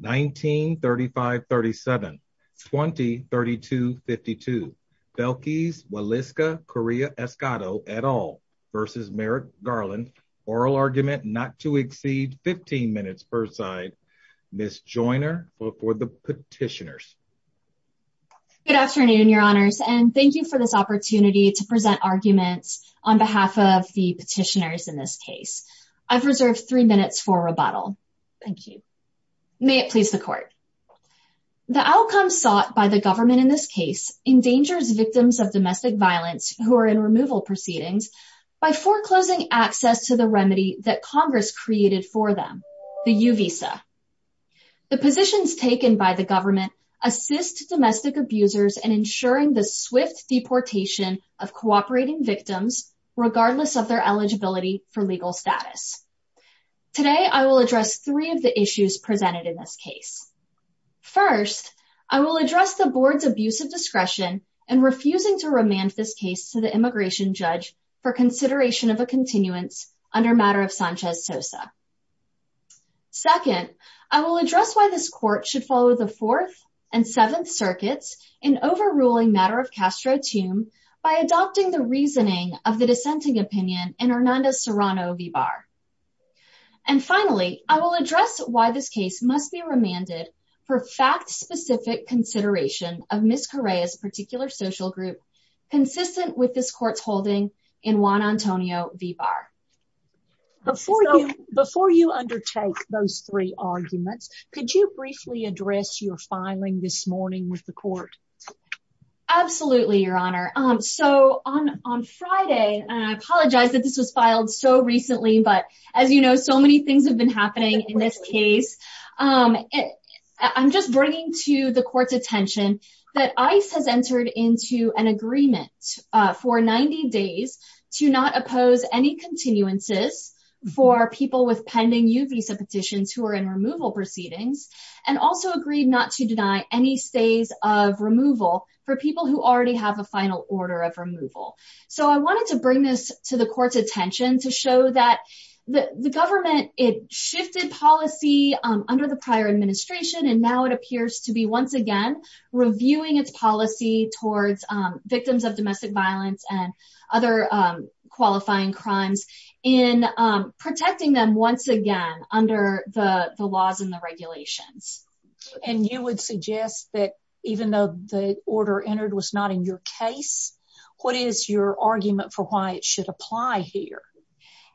1935-37, 20-32-52. Belkis Waliska Corea Escoto et al. versus Merrick Garland. Oral argument not to exceed 15 minutes per side. Miss Joiner for the petitioners. Good afternoon, your honors, and thank you for this opportunity to present arguments on behalf of the petitioners in this case. I've reserved three minutes for rebuttal. Thank you. May it please the court. The outcome sought by the government in this case endangers victims of domestic violence who are in removal proceedings by foreclosing access to the remedy that Congress created for them, the U-Visa. The positions taken by the government assist domestic abusers and ensuring the swift deportation of cooperating victims, regardless of their eligibility for legal status. Today I will address three of the issues presented in this case. First, I will address the board's abuse of discretion and refusing to remand this case to the immigration judge for consideration of a continuance under matter of Sanchez Sosa. Second, I will address why this court should follow the Fourth and Seventh Circuits in overruling matter of Castro Tum by adopting the reasoning of the dissenting opinion in Hernandez Serrano V. Barr. And finally, I will address why this case must be remanded for fact-specific consideration of Miss Corea's particular social group consistent with this court's holding in Juan Antonio V. Barr. Before you undertake those three arguments, could you briefly address your filing this morning with the court? Absolutely, Your Honor. So on Friday, and I apologize that this was filed so recently, but as you know, so many things have been happening in this case. I'm just bringing to the court's attention that ICE has entered into an agreement for 90 days to not oppose any continuances for people with pending U-Visa petitions who are in removal proceedings, and also agreed not to deny any stays of removal for people who already have a final order of removal. So I wanted to bring this to the court's attention to show that the government, it shifted policy under the prior administration, and now it appears to be once again reviewing its policy towards victims of domestic violence and other qualifying crimes in protecting them once again under the laws and the regulations. And you would suggest that even though the order entered was not in your case, what is your argument for why it should apply here?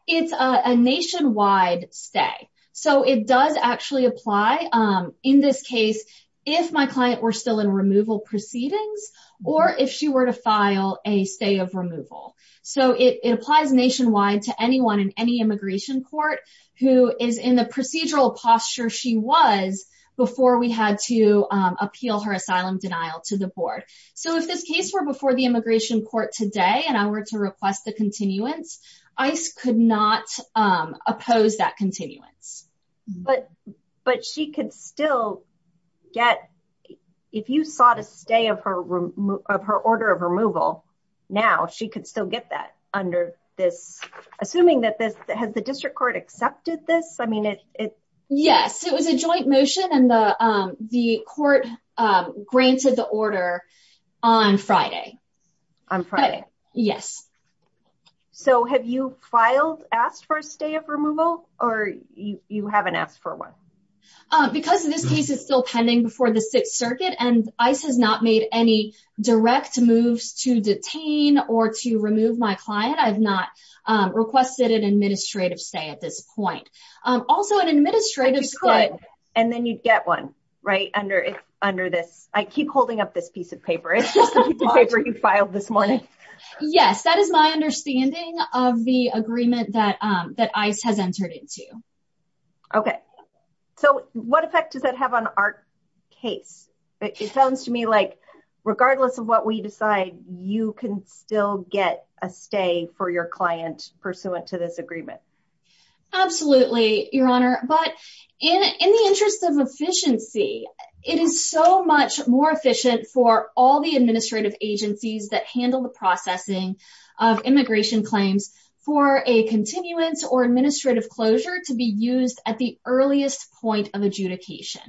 It's a nationwide stay. So it does actually apply in this case if my client were still in removal proceedings or if she were to file a stay of removal. So it applies nationwide to anyone in any immigration court who is in the procedural posture she was before we had to appeal her asylum denial to the board. So if this case were before the immigration court today and I were to request the continuance, ICE could not oppose that continuance. But she could still get, if you sought a stay of her order of removal now, she could still get that under this. Assuming that this, has the district court accepted this? Yes, it was a joint motion and the court granted the order on Friday. On Friday. Yes. So have you filed, asked for a stay of removal or you haven't asked for one? Because this case is still pending before the Sixth Circuit and ICE has not made any direct moves to detain or to remove my client, I've not requested an administrative stay at this point. Also an administrative stay. But you could, and then you'd get one, right, under this. I keep holding up this piece of paper. It's the piece of paper you filed this morning. Yes, that is my understanding of the agreement that ICE has entered into. Okay. So what effect does that have on our case? It sounds to me like regardless of what we decide, you can still get a stay for your client pursuant to this agreement. Absolutely, Your Honor. But in the interest of efficiency, it is so much more efficient for all the administrative agencies that handle the processing of immigration claims for a continuance or administrative closure to be used at the earliest point of adjudication.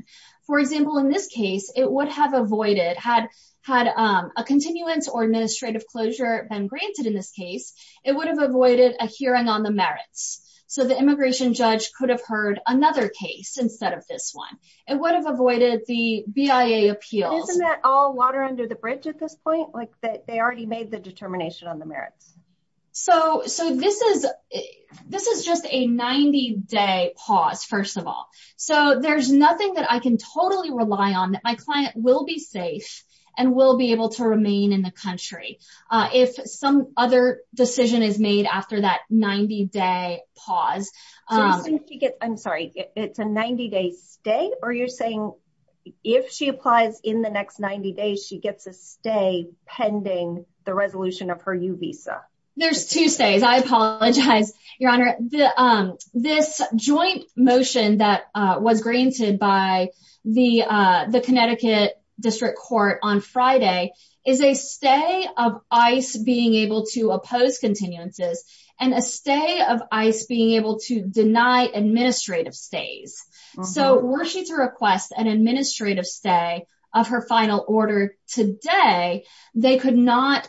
For example, in this case, it would have avoided, had a continuance or administrative closure been granted in this case, it would have avoided a hearing on the merits. So the immigration judge could have heard another case instead of this one. It would have avoided the BIA appeals. Isn't that all water under the bridge at this point? Like they already made the determination on the merits. So this is just a 90-day pause, first of all. So there's nothing that I can totally rely on that my client will be safe and will be able to remain in the country. If some other decision is made after that 90-day pause. I'm sorry, it's a 90-day stay? Or you're saying if she applies in the next 90 days, she gets a stay pending the resolution of her U visa? There's two stays. I apologize, Your Honor. This joint motion that was granted by the Connecticut District Court on Friday is a stay of ICE being able to oppose continuances and a stay of ICE being able to deny administrative stays. So were she to request an administrative stay of her final order today, they could not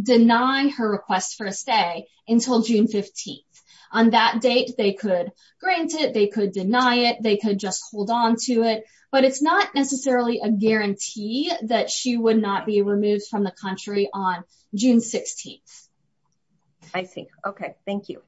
deny her request for a stay until June 15th. On that date, they could grant it, they could deny it, they could just hold on to it. But it's not necessarily a guarantee that she would not be removed from the country on June 16th. I see. Okay, thank you.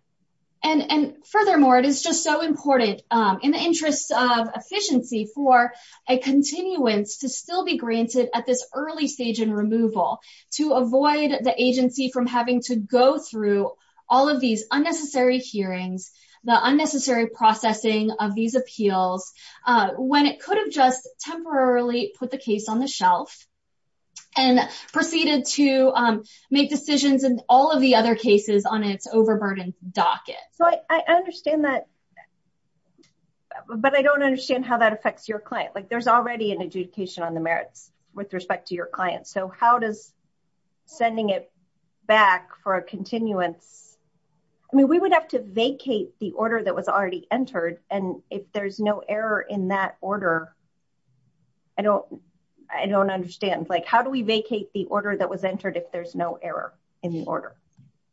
And furthermore, it is just so important in the interest of efficiency for a continuance to still be granted at this early stage in removal to avoid the agency from having to go through all of these unnecessary hearings, the unnecessary processing of these appeals, when it could have just temporarily put the case on the shelf and proceeded to make decisions and all of the other cases on its overburdened docket. So I understand that. But I don't understand how that affects your client. Like there's already an adjudication on the merits with respect to your client. So how does sending it back for a continuance. I mean, we would have to vacate the order that was already entered. And if there's no error in that order. I don't, I don't understand like how do we vacate the order that was entered if there's no error in the order.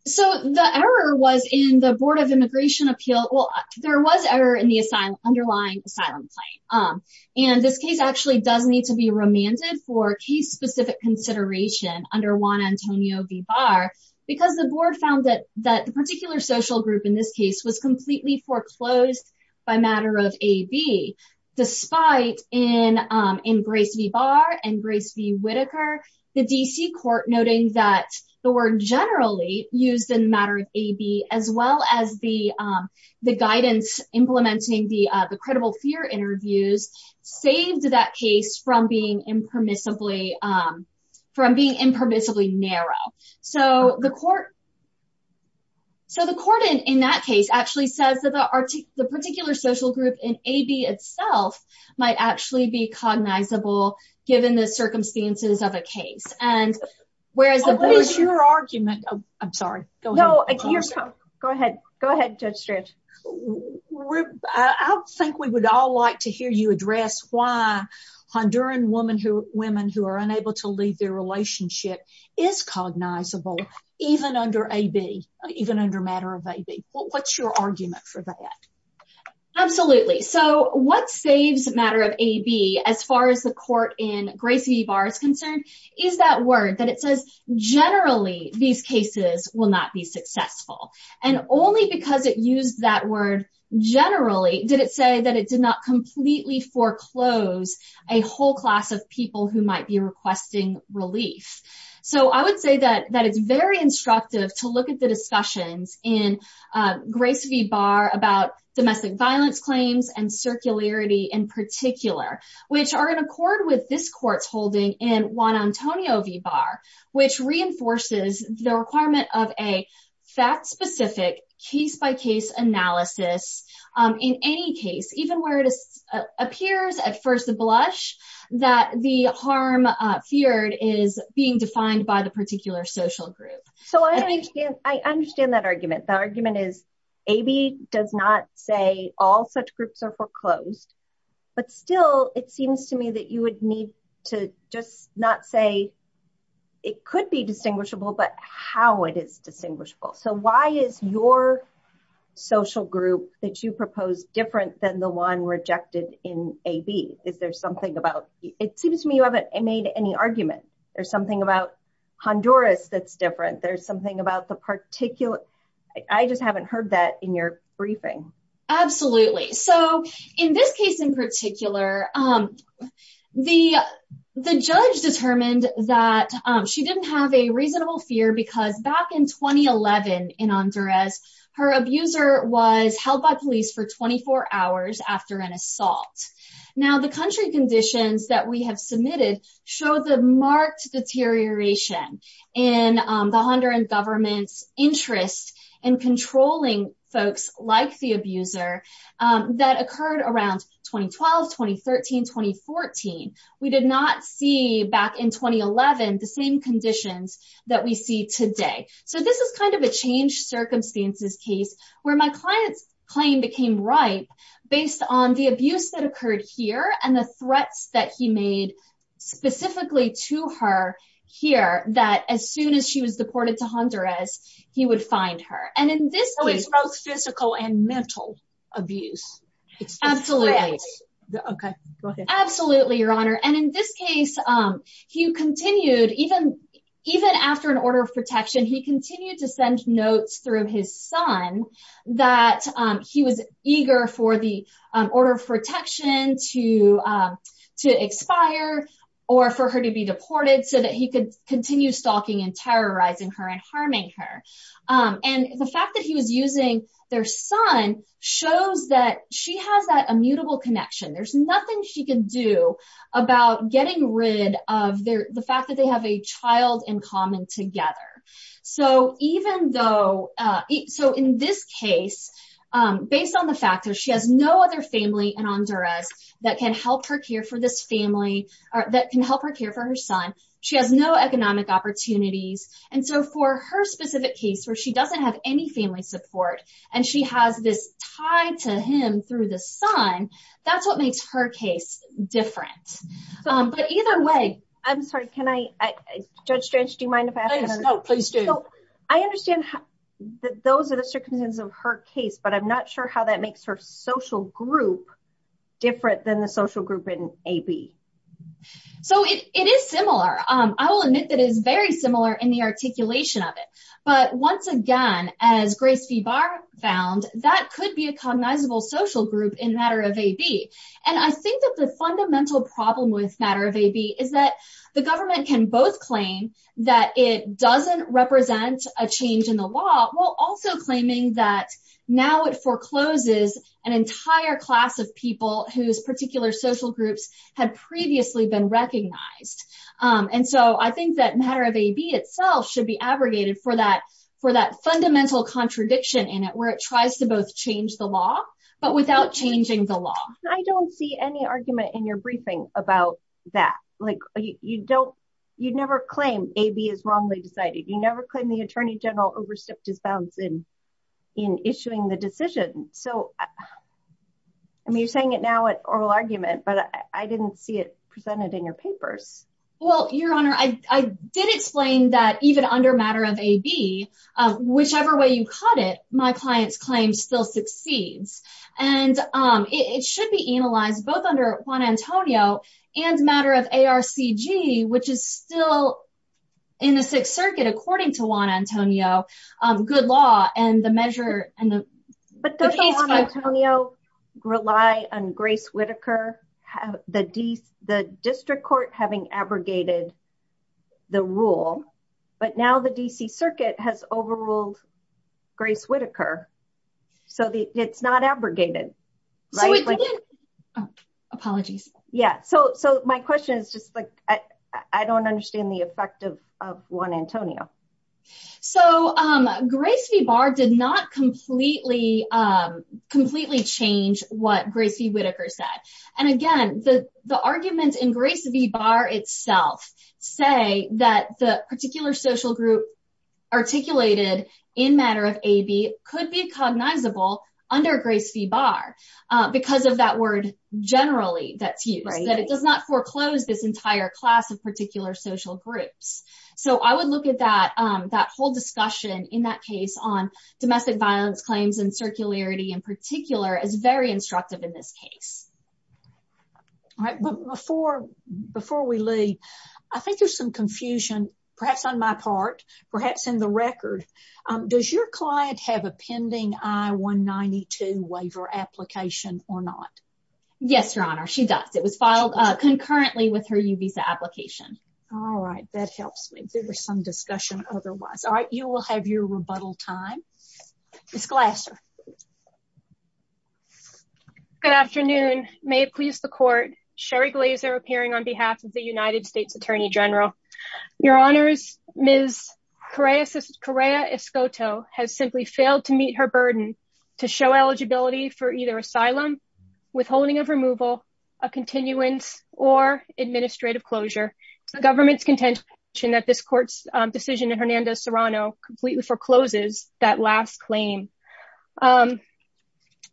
So the error was in the Board of Immigration Appeal. Well, there was error in the asylum underlying asylum claim. And this case actually does need to be remanded for case specific consideration under Juan Antonio V. Barr, because the board found that that particular social group in this case was completely foreclosed by matter of a B. Despite in, in Grace V. Barr and Grace V. Whitaker, the DC court noting that the word generally used in matter of a B, as well as the, the guidance implementing the credible fear interviews saved that case from being impermissibly from being impermissibly narrow. So the court. So the court in that case actually says that the article, the particular social group in a B itself might actually be cognizable, given the circumstances of a case, and whereas your argument. I'm sorry. Go ahead. Go ahead. Go ahead. Even under matter of a B. What's your argument for that. Absolutely. So what saves matter of a B as far as the court in Gracie bars concerned, is that word that it says, generally, these cases will not be successful, and only because it used that word. Generally, did it say that it did not completely foreclose a whole class of people who might be requesting relief. So I would say that that it's very instructive to look at the discussions in Grace V. Barr about domestic violence claims and circularity in particular, which are in accord with this court's holding in Juan Antonio V. Barr, which reinforces the requirement of a fact specific case by case analysis. In any case, even where it appears at first blush that the harm feared is being defined by the particular social group. So I understand that argument. The argument is a B does not say all such groups are foreclosed, but still it seems to me that you would need to just not say it could be distinguishable but how it is distinguishable. So why is your social group that you propose different than the one rejected in a B? Is there something about it seems to me you haven't made any argument. There's something about Honduras that's different. There's something about the particular. I just haven't heard that in your briefing. Absolutely. So in this case in particular, the judge determined that she didn't have a reasonable fear because back in 2011 in Honduras, her abuser was held by police for 24 hours after an assault. Now the country conditions that we have submitted show the marked deterioration in the Honduran government's interest in controlling folks like the abuser that occurred around 2012, 2013, 2014. We did not see back in 2011 the same conditions that we see today. So this is kind of a change circumstances case where my client's claim became right based on the abuse that occurred here and the threats that he made specifically to her here that as soon as she was deported to Honduras, he would find her. So it's both physical and mental abuse. Absolutely. Absolutely, Your Honor. And in this case, he continued even after an order of protection, he continued to send notes through his son that he was eager for the order of protection to expire or for her to be deported so that he could continue stalking and terrorizing her and harming her. And the fact that he was using their son shows that she has that immutable connection. There's nothing she can do about getting rid of the fact that they have a child in common together. So in this case, based on the fact that she has no other family in Honduras that can help her care for this family or that can help her care for her son, she has no economic opportunities. And so for her specific case where she doesn't have any family support and she has this tied to him through the son, that's what makes her case different. Judge Strange, do you mind if I ask a question? Please do. I understand that those are the circumstances of her case, but I'm not sure how that makes her social group different than the social group in AB. So it is similar. I will admit that it is very similar in the articulation of it. But once again, as Grace V. Barr found, that could be a cognizable social group in Matter of AB. And I think that the fundamental problem with Matter of AB is that the government can both claim that it doesn't represent a change in the law while also claiming that now it forecloses an entire class of people whose particular social groups had previously been recognized. And so I think that Matter of AB itself should be abrogated for that fundamental contradiction in it where it tries to both change the law, but without changing the law. I don't see any argument in your briefing about that. You never claim AB is wrongly decided. You never claim the Attorney General overstepped his bounds in issuing the decision. You're saying it now at oral argument, but I didn't see it presented in your papers. Well, Your Honor, I did explain that even under Matter of AB, whichever way you cut it, my client's claim still succeeds. And it should be analyzed both under Juan Antonio and Matter of ARCG, which is still in the Sixth Circuit, according to Juan Antonio. But doesn't Juan Antonio rely on Grace Whittaker, the district court having abrogated the rule, but now the D.C. Circuit has overruled Grace Whittaker? So it's not abrogated, right? Apologies. Yeah, so my question is just like, I don't understand the effect of Juan Antonio. So Grace v. Barr did not completely change what Grace v. Whittaker said. And again, the arguments in Grace v. Barr itself say that the particular social group articulated in Matter of AB could be cognizable under Grace v. Barr because of that word generally that's used. That it does not foreclose this entire class of particular social groups. So I would look at that whole discussion in that case on domestic violence claims and circularity in particular as very instructive in this case. All right, but before we leave, I think there's some confusion, perhaps on my part, perhaps in the record. Does your client have a pending I-192 waiver application or not? Yes, Your Honor, she does. It was filed concurrently with her U-Visa application. All right, that helps me. There was some discussion otherwise. All right, you will have your rebuttal time. Ms. Glasser. Good afternoon. May it please the court, Sherry Glazer appearing on behalf of the United States Attorney General. Your Honors, Ms. Correa-Escoto has simply failed to meet her burden to show eligibility for either asylum, withholding of removal, a continuance, or administrative closure. The government's contention that this court's decision in Hernandez-Serrano completely forecloses that last claim.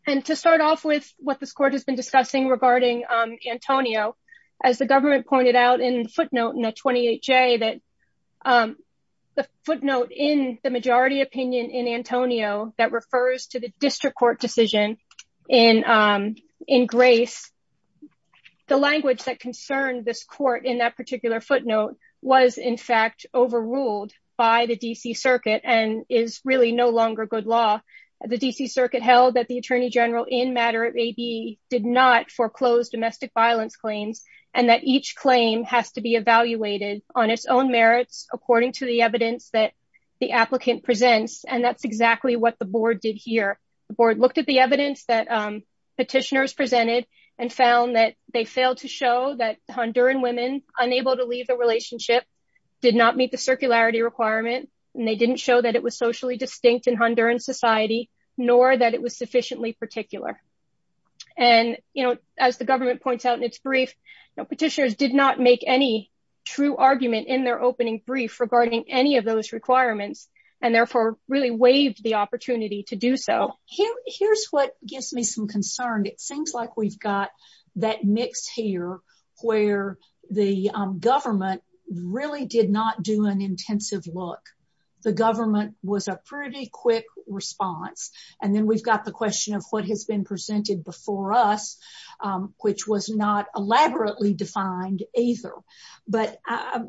And to start off with what this court has been discussing regarding Antonio, as the government pointed out in footnote in the 28-J that the footnote in the majority opinion in Antonio that refers to the district court decision in Grace, the language that concerned this court in that particular footnote was in fact overruled by the D.C. Circuit and is really no longer good law. The D.C. Circuit held that the Attorney General in matter of A.B. did not foreclose domestic violence claims and that each claim has to be evaluated on its own merits according to the evidence that the applicant presents. And that's exactly what the board did here. The board looked at the evidence that petitioners presented and found that they failed to show that Honduran women unable to leave the relationship did not meet the circularity requirement, and they didn't show that it was socially distinct in Honduran society, nor that it was sufficiently particular. And, you know, as the government points out in its brief, petitioners did not make any true argument in their opening brief regarding any of those requirements, and therefore really waived the opportunity to do so. Here's what gives me some concern. It seems like we've got that mix here where the government really did not do an intensive look. The government was a pretty quick response. And then we've got the question of what has been presented before us, which was not elaborately defined either. But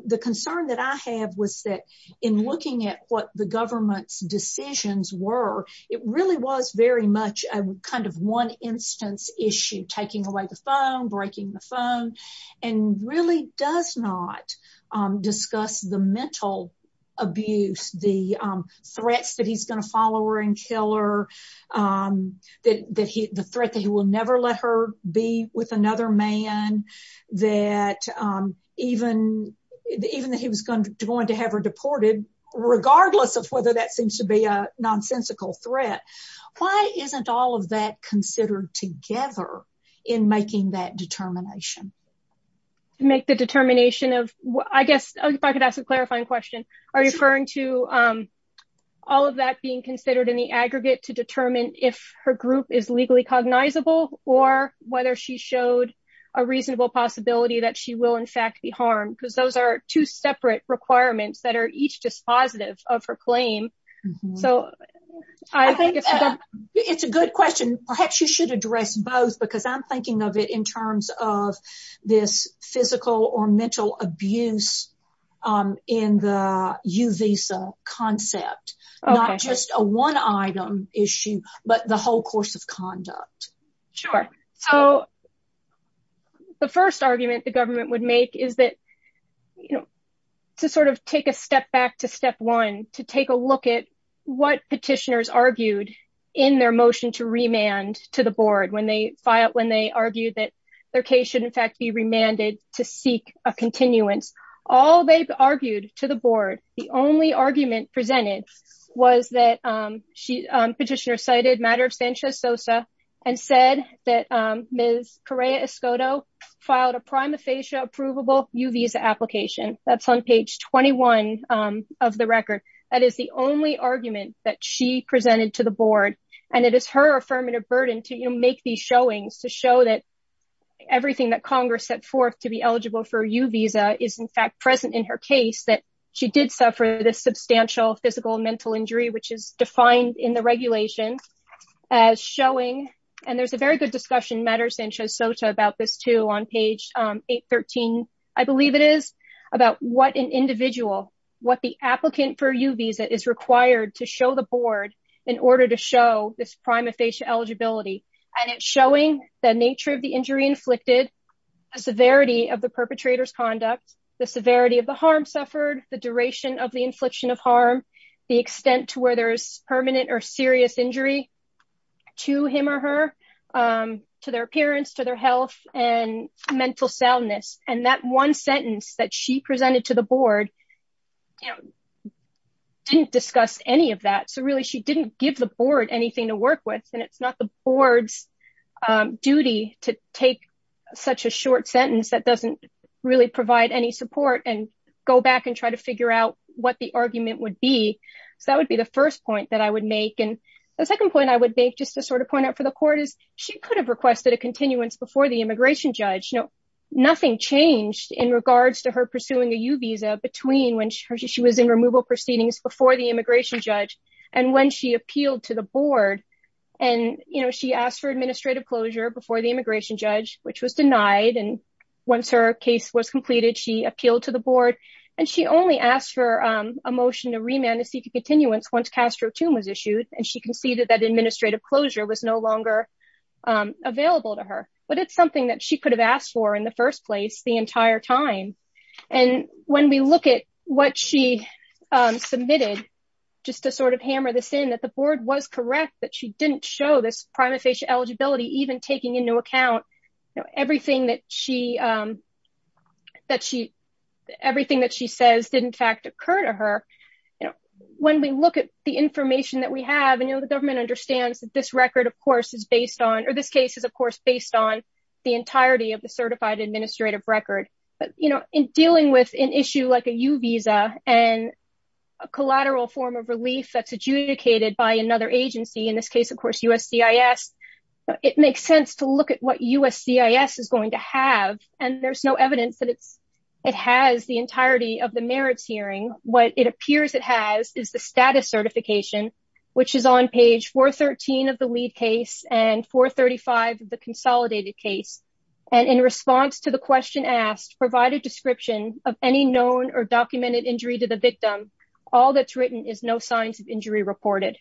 the concern that I have was that in looking at what the government's decisions were, it really was very much a kind of one instance issue, taking away the phone, breaking the phone, and really does not discuss the mental abuse, the threats that he's going to follow her and kill her, the threat that he will never let her be with another man, that even that he was going to have her deported, regardless of whether that seems to be a nonsensical threat. Why isn't all of that considered together in making that determination? To make the determination of, I guess, if I could ask a clarifying question, are you referring to all of that being considered in the aggregate to determine if her group is legally cognizable, or whether she showed a reasonable possibility that she will in fact be harmed? Because those are two separate requirements that are each dispositive of her claim. It's a good question. Perhaps you should address both because I'm thinking of it in terms of this physical or mental abuse in the U visa concept, not just a one item issue, but the whole course of conduct. Sure. So, the first argument the government would make is that, you know, to sort of take a step back to step one, to take a look at what petitioners argued in their motion to remand to the board when they argue that their case should in fact be remanded to seek a continuance. All they've argued to the board, the only argument presented was that petitioner cited matter of Sanchez Sosa and said that Ms. Correa Escoto filed a prima facie approvable U visa application. That's on page 21 of the record. That is the only argument that she presented to the board, and it is her affirmative burden to make these showings to show that everything that Congress set forth to be eligible for U visa is in fact present in her case that she did suffer this substantial physical and mental injury, which is defined in the regulation as showing. And there's a very good discussion matters and shows SOTA about this too on page 813, I believe it is about what an individual, what the applicant for U visa is required to show the board in order to show this prima facie eligibility, and it's showing the nature of the injury inflicted, the severity of the perpetrator's conduct, the severity of the harm suffered, the duration of the infliction of harm, the extent to where there's permanent or serious injury. To him or her, to their appearance to their health and mental soundness, and that one sentence that she presented to the board. Didn't discuss any of that so really she didn't give the board anything to work with and it's not the board's duty to take such a short sentence that doesn't really provide any support and go back and try to figure out what the argument would be. So that would be the first point that I would make and the second point I would make just to sort of point out for the court is, she could have requested a continuance before the immigration judge know nothing changed in regards to her pursuing a U visa between when she was in removal proceedings before the immigration judge, and when she appealed to the board. And, you know, she asked for administrative closure before the immigration judge, which was denied and once her case was completed she appealed to the board. And she only asked for a motion to remand to seek a continuance once Castro to was issued and she conceded that administrative closure was no longer available to her, but it's something that she could have asked for in the first place the entire time. And when we look at what she submitted, just to sort of hammer this in that the board was correct that she didn't show this prima facie eligibility even taking into account everything that she that she everything that she says didn't fact occur to her. When we look at the information that we have and you know the government understands that this record of course is based on or this case is of course based on the entirety of the certified administrative record, but you know, in dealing with an issue like a U visa, and a collateral form of relief that's adjudicated by another agency in this case of course USC is. It makes sense to look at what USC is going to have, and there's no evidence that it's, it has the entirety of the merits hearing what it appears it has is the status certification, which is on page for 13 of the lead case and for 35, the consolidated case, and in response to the question asked provide a description of any known or documented injury to the victim. All that's written is no signs of injury reported.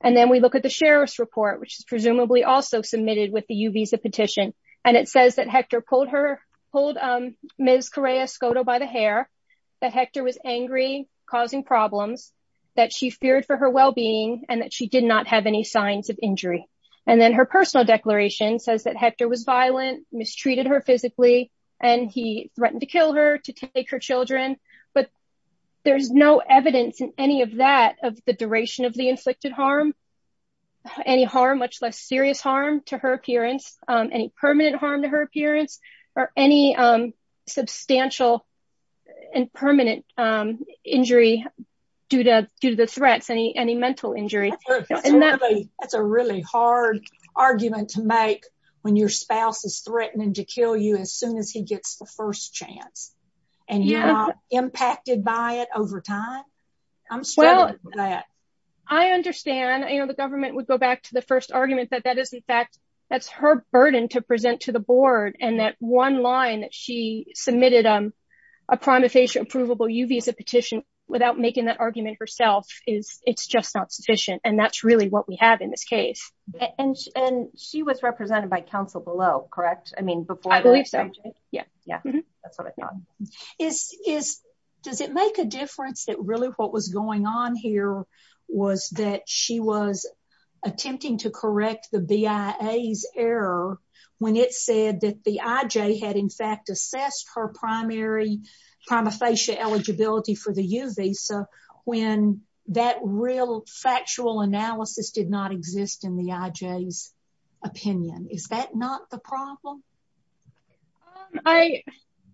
And then we look at the sheriff's report which is presumably also submitted with the U visa petition, and it says that Hector pulled her pulled. Ms Korea Scoto by the hair that Hector was angry, causing problems that she feared for her well being, and that she did not have any signs of injury, and then her personal declaration says that Hector was violent mistreated her physically, and he threatened to kill her to take her children, but there's no evidence in any of that of the duration of the inflicted harm any harm much less serious harm to her appearance, any permanent harm to her appearance, or any substantial and permanent injury. Due to due to the threats any any mental injury. That's a really hard argument to make when your spouse is threatening to kill you as soon as he gets the first chance, and you're impacted by it over time. I understand, you know, the government would go back to the first argument that that is in fact, that's her burden to present to the board and that one line that she submitted on a prima facie approvable UV as a petition, without making that argument herself is, it's just not sufficient and that's really what we have in this case, and, and she was represented by counsel below correct I mean before I believe so. Yeah, that's what I thought is, is, does it make a difference that really what was going on here was that she was attempting to correct the BIAs error when it said that the IJ had in fact assessed her primary prima facie eligibility for the UV so when that real factual analysis did not exist in the IJs opinion is that not the problem. I,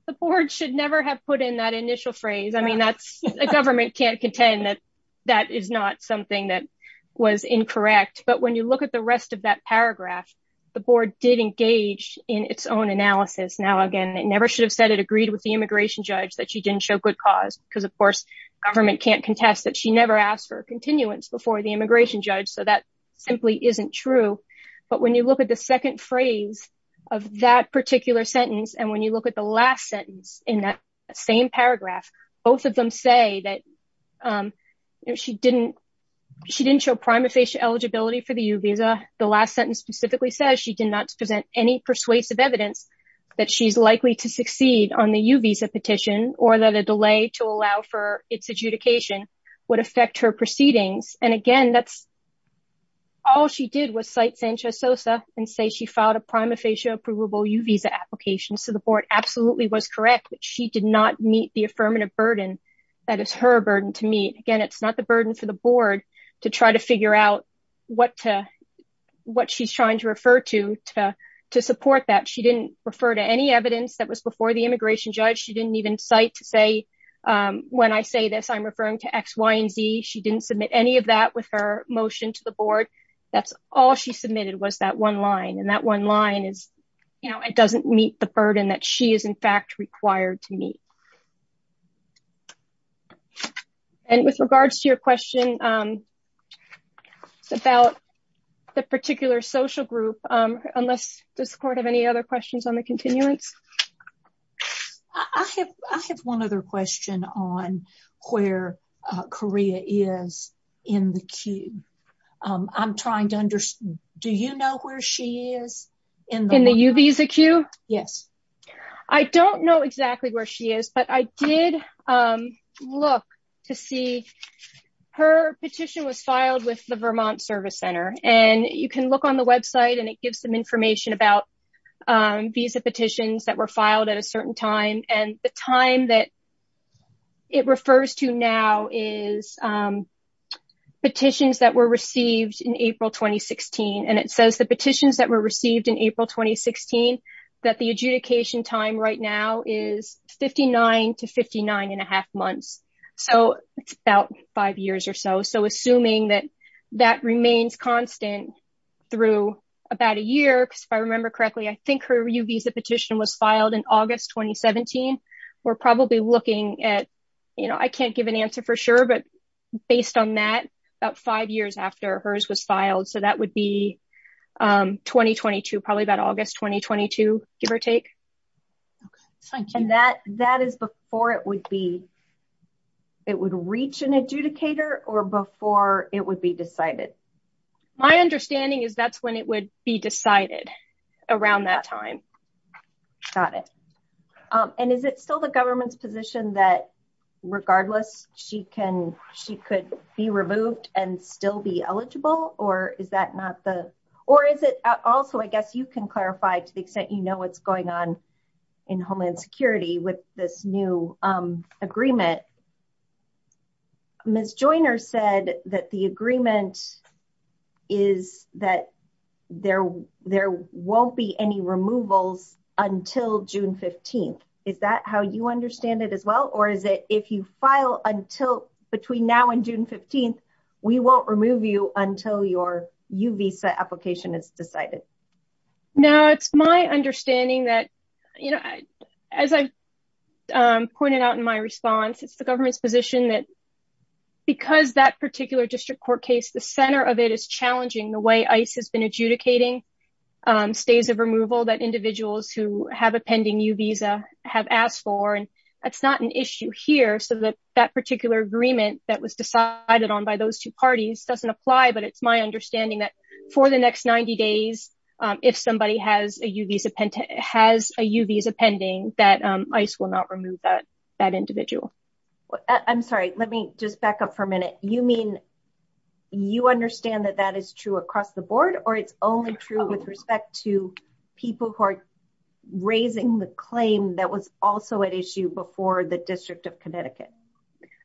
the board should never have put in that initial phrase I mean that's a government can't contend that that is not something that was incorrect but when you look at the rest of that paragraph. The board did engage in its own analysis now again it never should have said it agreed with the immigration judge that she didn't show good cause, because of course, government can't contest that she never asked for continuance before the immigration judge so that simply isn't true. But when you look at the second phrase of that particular sentence and when you look at the last sentence in that same paragraph, both of them say that she didn't. She didn't show prima facie eligibility for the visa, the last sentence specifically says she did not present any persuasive evidence that she's likely to succeed on the visa petition, or the delay to allow for its adjudication would affect her proceedings, and again that's all she did was cite Sanchez Sosa and say she filed a prima facie approvable you visa application so the board absolutely was correct but she did not meet the affirmative burden. That is her burden to meet again it's not the burden for the board to try to figure out what to what she's trying to refer to, to support that she didn't refer to any evidence that was before the immigration judge she didn't even cite to say, when I say this I'm referring to x y&z she didn't submit any of that with her motion to the board. That's all she submitted was that one line and that one line is, you know, it doesn't meet the burden that she is in fact required to meet. And with regards to your question about the particular social group, unless the support of any other questions on the continuance. I have one other question on where Korea is in the queue. I'm trying to understand, do you know where she is in the UV is a queue. Yes. I don't know exactly where she is but I did look to see her petition was filed with the Vermont Service Center, and you can look on the website and it gives some information about visa petitions that were filed at a certain time, and the time that it refers to now is petitions that were received in April 2016 and it says the petitions that were received in April 2016, that the adjudicator application time right now is 59 to 59 and a half months. So, about five years or so so assuming that that remains constant through about a year because if I remember correctly I think her UV is a petition was filed in August 2017, we're probably looking at, you know, I can't give an answer for sure but based on that about five years after hers was filed so that would be 2022 probably about August 2022, give or take. And that, that is before it would be. It would reach an adjudicator or before it would be decided. My understanding is that's when it would be decided around that time. Got it. And is it still the government's position that regardless, she can she could be removed and still be eligible, or is that not the, or is it also I guess you can clarify to the extent you know what's going on in Homeland Security with this new agreement. Miss Joyner said that the agreement is that there, there won't be any removals until June 15. Is that how you understand it as well or is it if you file until between now and June 15, we won't remove you until your UV application is decided. No, it's my understanding that, you know, as I pointed out in my response it's the government's position that because that particular district court case the center of it is challenging the way ice has been adjudicating stays of removal that individuals who have a pending you visa have asked for and it's not an issue here so that that particular agreement that was decided on by those two parties doesn't apply but it's my understanding that for the next 90 days. If somebody has a UV has a UV is a pending that ice will not remove that that individual. I'm sorry, let me just back up for a minute. You mean you understand that that is true across the board, or it's only true with respect to people who are raising the claim that was also at issue before the District of Connecticut.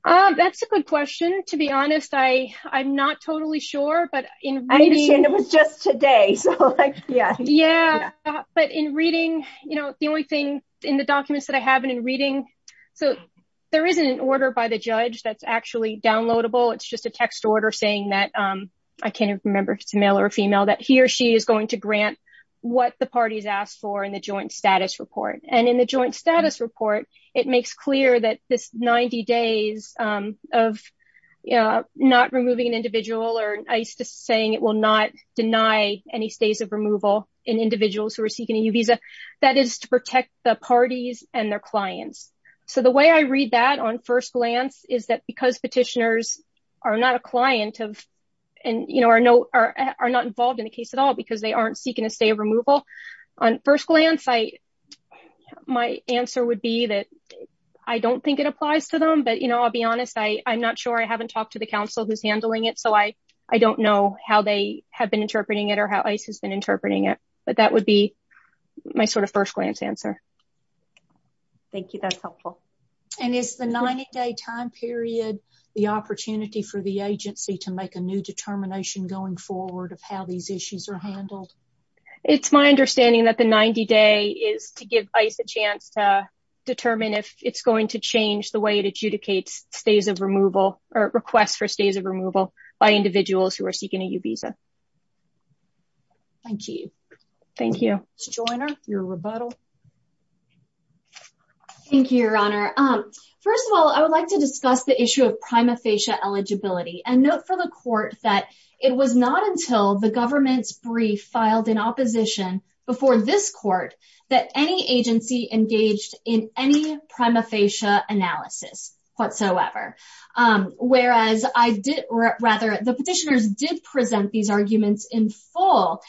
That's a good question. To be honest, I, I'm not totally sure but it was just today so yeah yeah but in reading, you know, the only thing in the documents that I haven't in reading. So, there isn't an order by the judge that's actually downloadable it's just a text order saying that I can't remember if it's male or female that he or she is going to grant what the parties asked for in the joint status report and in the joint status report, it makes clear that this 90 days of not removing an individual or ice just saying it will not deny any stays of removal in individuals who are seeking a visa. That is to protect the parties and their clients. So the way I read that on first glance, is that because petitioners are not a client of, and you know are no are not involved in the case at all because they aren't seeking a stay of removal on first glance I. My answer would be that I don't think it applies to them but you know I'll be honest I I'm not sure I haven't talked to the council who's handling it so I, I don't know how they have been interpreting it or how he's been interpreting it, but that would be my sort of first glance answer. Thank you. That's helpful. And it's the 90 day time period, the opportunity for the agency to make a new determination going forward of how these issues are handled. It's my understanding that the 90 day is to give us a chance to determine if it's going to change the way it adjudicates stays of removal or request for stays of removal by individuals who are seeking a visa. Thank you. Thank you. Join your rebuttal. Thank you, Your Honor. First of all, I would like to discuss the issue of prima facie eligibility and note for the court that it was not until the government's brief filed in opposition before this court that any agency engaged in any prima facie analysis whatsoever. Whereas I did, rather, the petitioners did present these arguments in full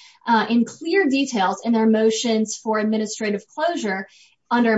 in clear details in their motions for administrative closure. Now,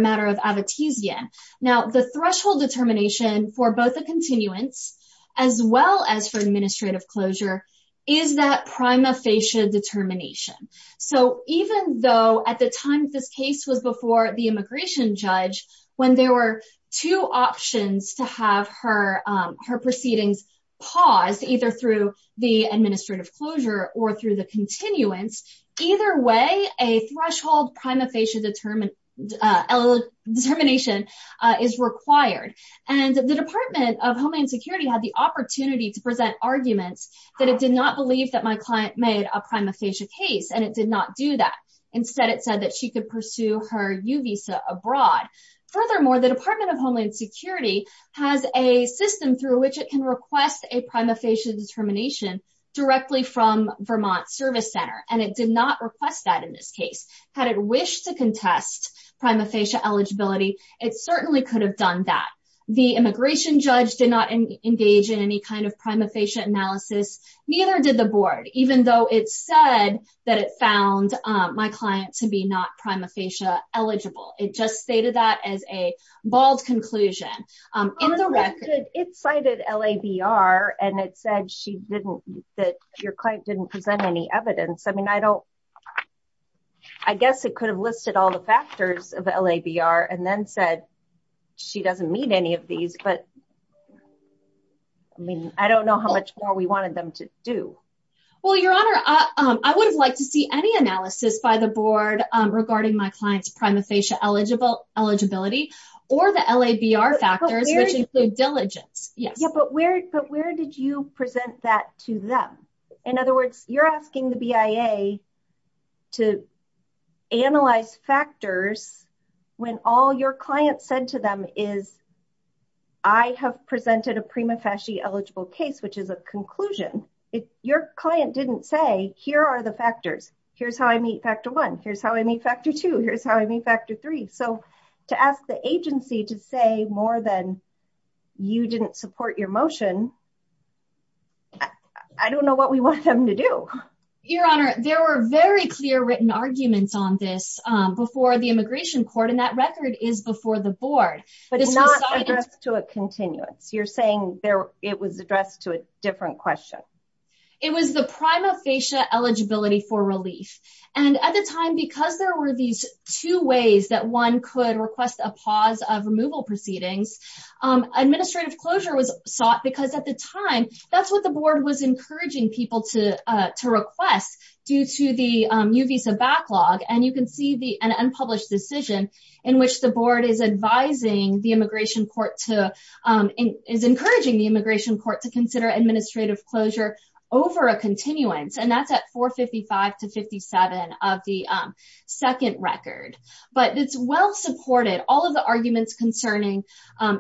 the threshold determination for both the continuance as well as for administrative closure is that prima facie determination. So even though at the time of this case was before the immigration judge when there were two options to have her, her proceedings pause either through the administrative closure or through the continuance. Either way, a threshold prima facie determined determination is required. And the Department of Homeland Security had the opportunity to present arguments that it did not believe that my client made a prima facie case and it did not do that. Instead, it said that she could pursue her U visa abroad. Furthermore, the Department of Homeland Security has a system through which it can request a prima facie determination directly from Vermont Service Center, and it did not request that in this case. Had it wished to contest prima facie eligibility, it certainly could have done that. The immigration judge did not engage in any kind of prima facie analysis. Neither did the board, even though it said that it found my client to be not prima facie eligible. It just stated that as a bald conclusion. It cited L.A.B.R. and it said she didn't that your client didn't present any evidence. I mean, I don't I guess it could have listed all the factors of L.A.B.R. and then said she doesn't meet any of these. But I mean, I don't know how much more we wanted them to do. Well, your honor, I would have liked to see any analysis by the board regarding my client's prima facie eligible eligibility or the L.A.B.R. factors, which include diligence. But where did you present that to them? In other words, you're asking the BIA to analyze factors when all your client said to them is. I have presented a prima facie eligible case, which is a conclusion. Your client didn't say here are the factors. Here's how I meet factor one. Here's how I meet factor two. Here's how I meet factor three. So to ask the agency to say more than you didn't support your motion. I don't know what we want them to do. Your honor, there were very clear written arguments on this before the immigration court and that record is before the board. But it's not addressed to a continuance. You're saying there it was addressed to a different question. It was the prima facie eligibility for relief. And at the time, because there were these two ways that one could request a pause of removal proceedings. Administrative closure was sought because at the time, that's what the board was encouraging people to request due to the new visa backlog. And you can see the unpublished decision in which the board is advising the immigration court to Is encouraging the immigration court to consider administrative closure over a continuance and that's at 455 to 57 of the second record. But it's well supported all of the arguments concerning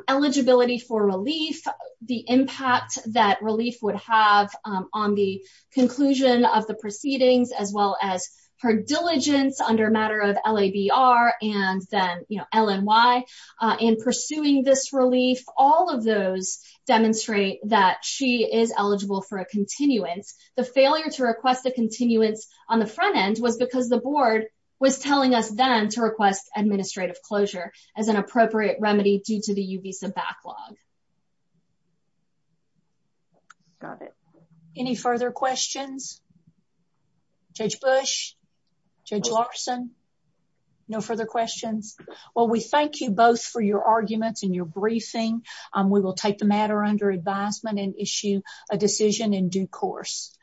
eligibility for relief. The impact that relief would have on the conclusion of the proceedings, as well as her diligence under matter of L.A.B.R. and then L.N.Y. In pursuing this relief, all of those demonstrate that she is eligible for a continuance. The failure to request a continuance on the front end was because the board was telling us then to request administrative closure as an appropriate remedy due to the new visa backlog. Got it. Any further questions? Judge Bush? Judge Larson? No further questions. Well, we thank you both for your arguments and your briefing. We will take the matter under advisement and issue a decision in due course.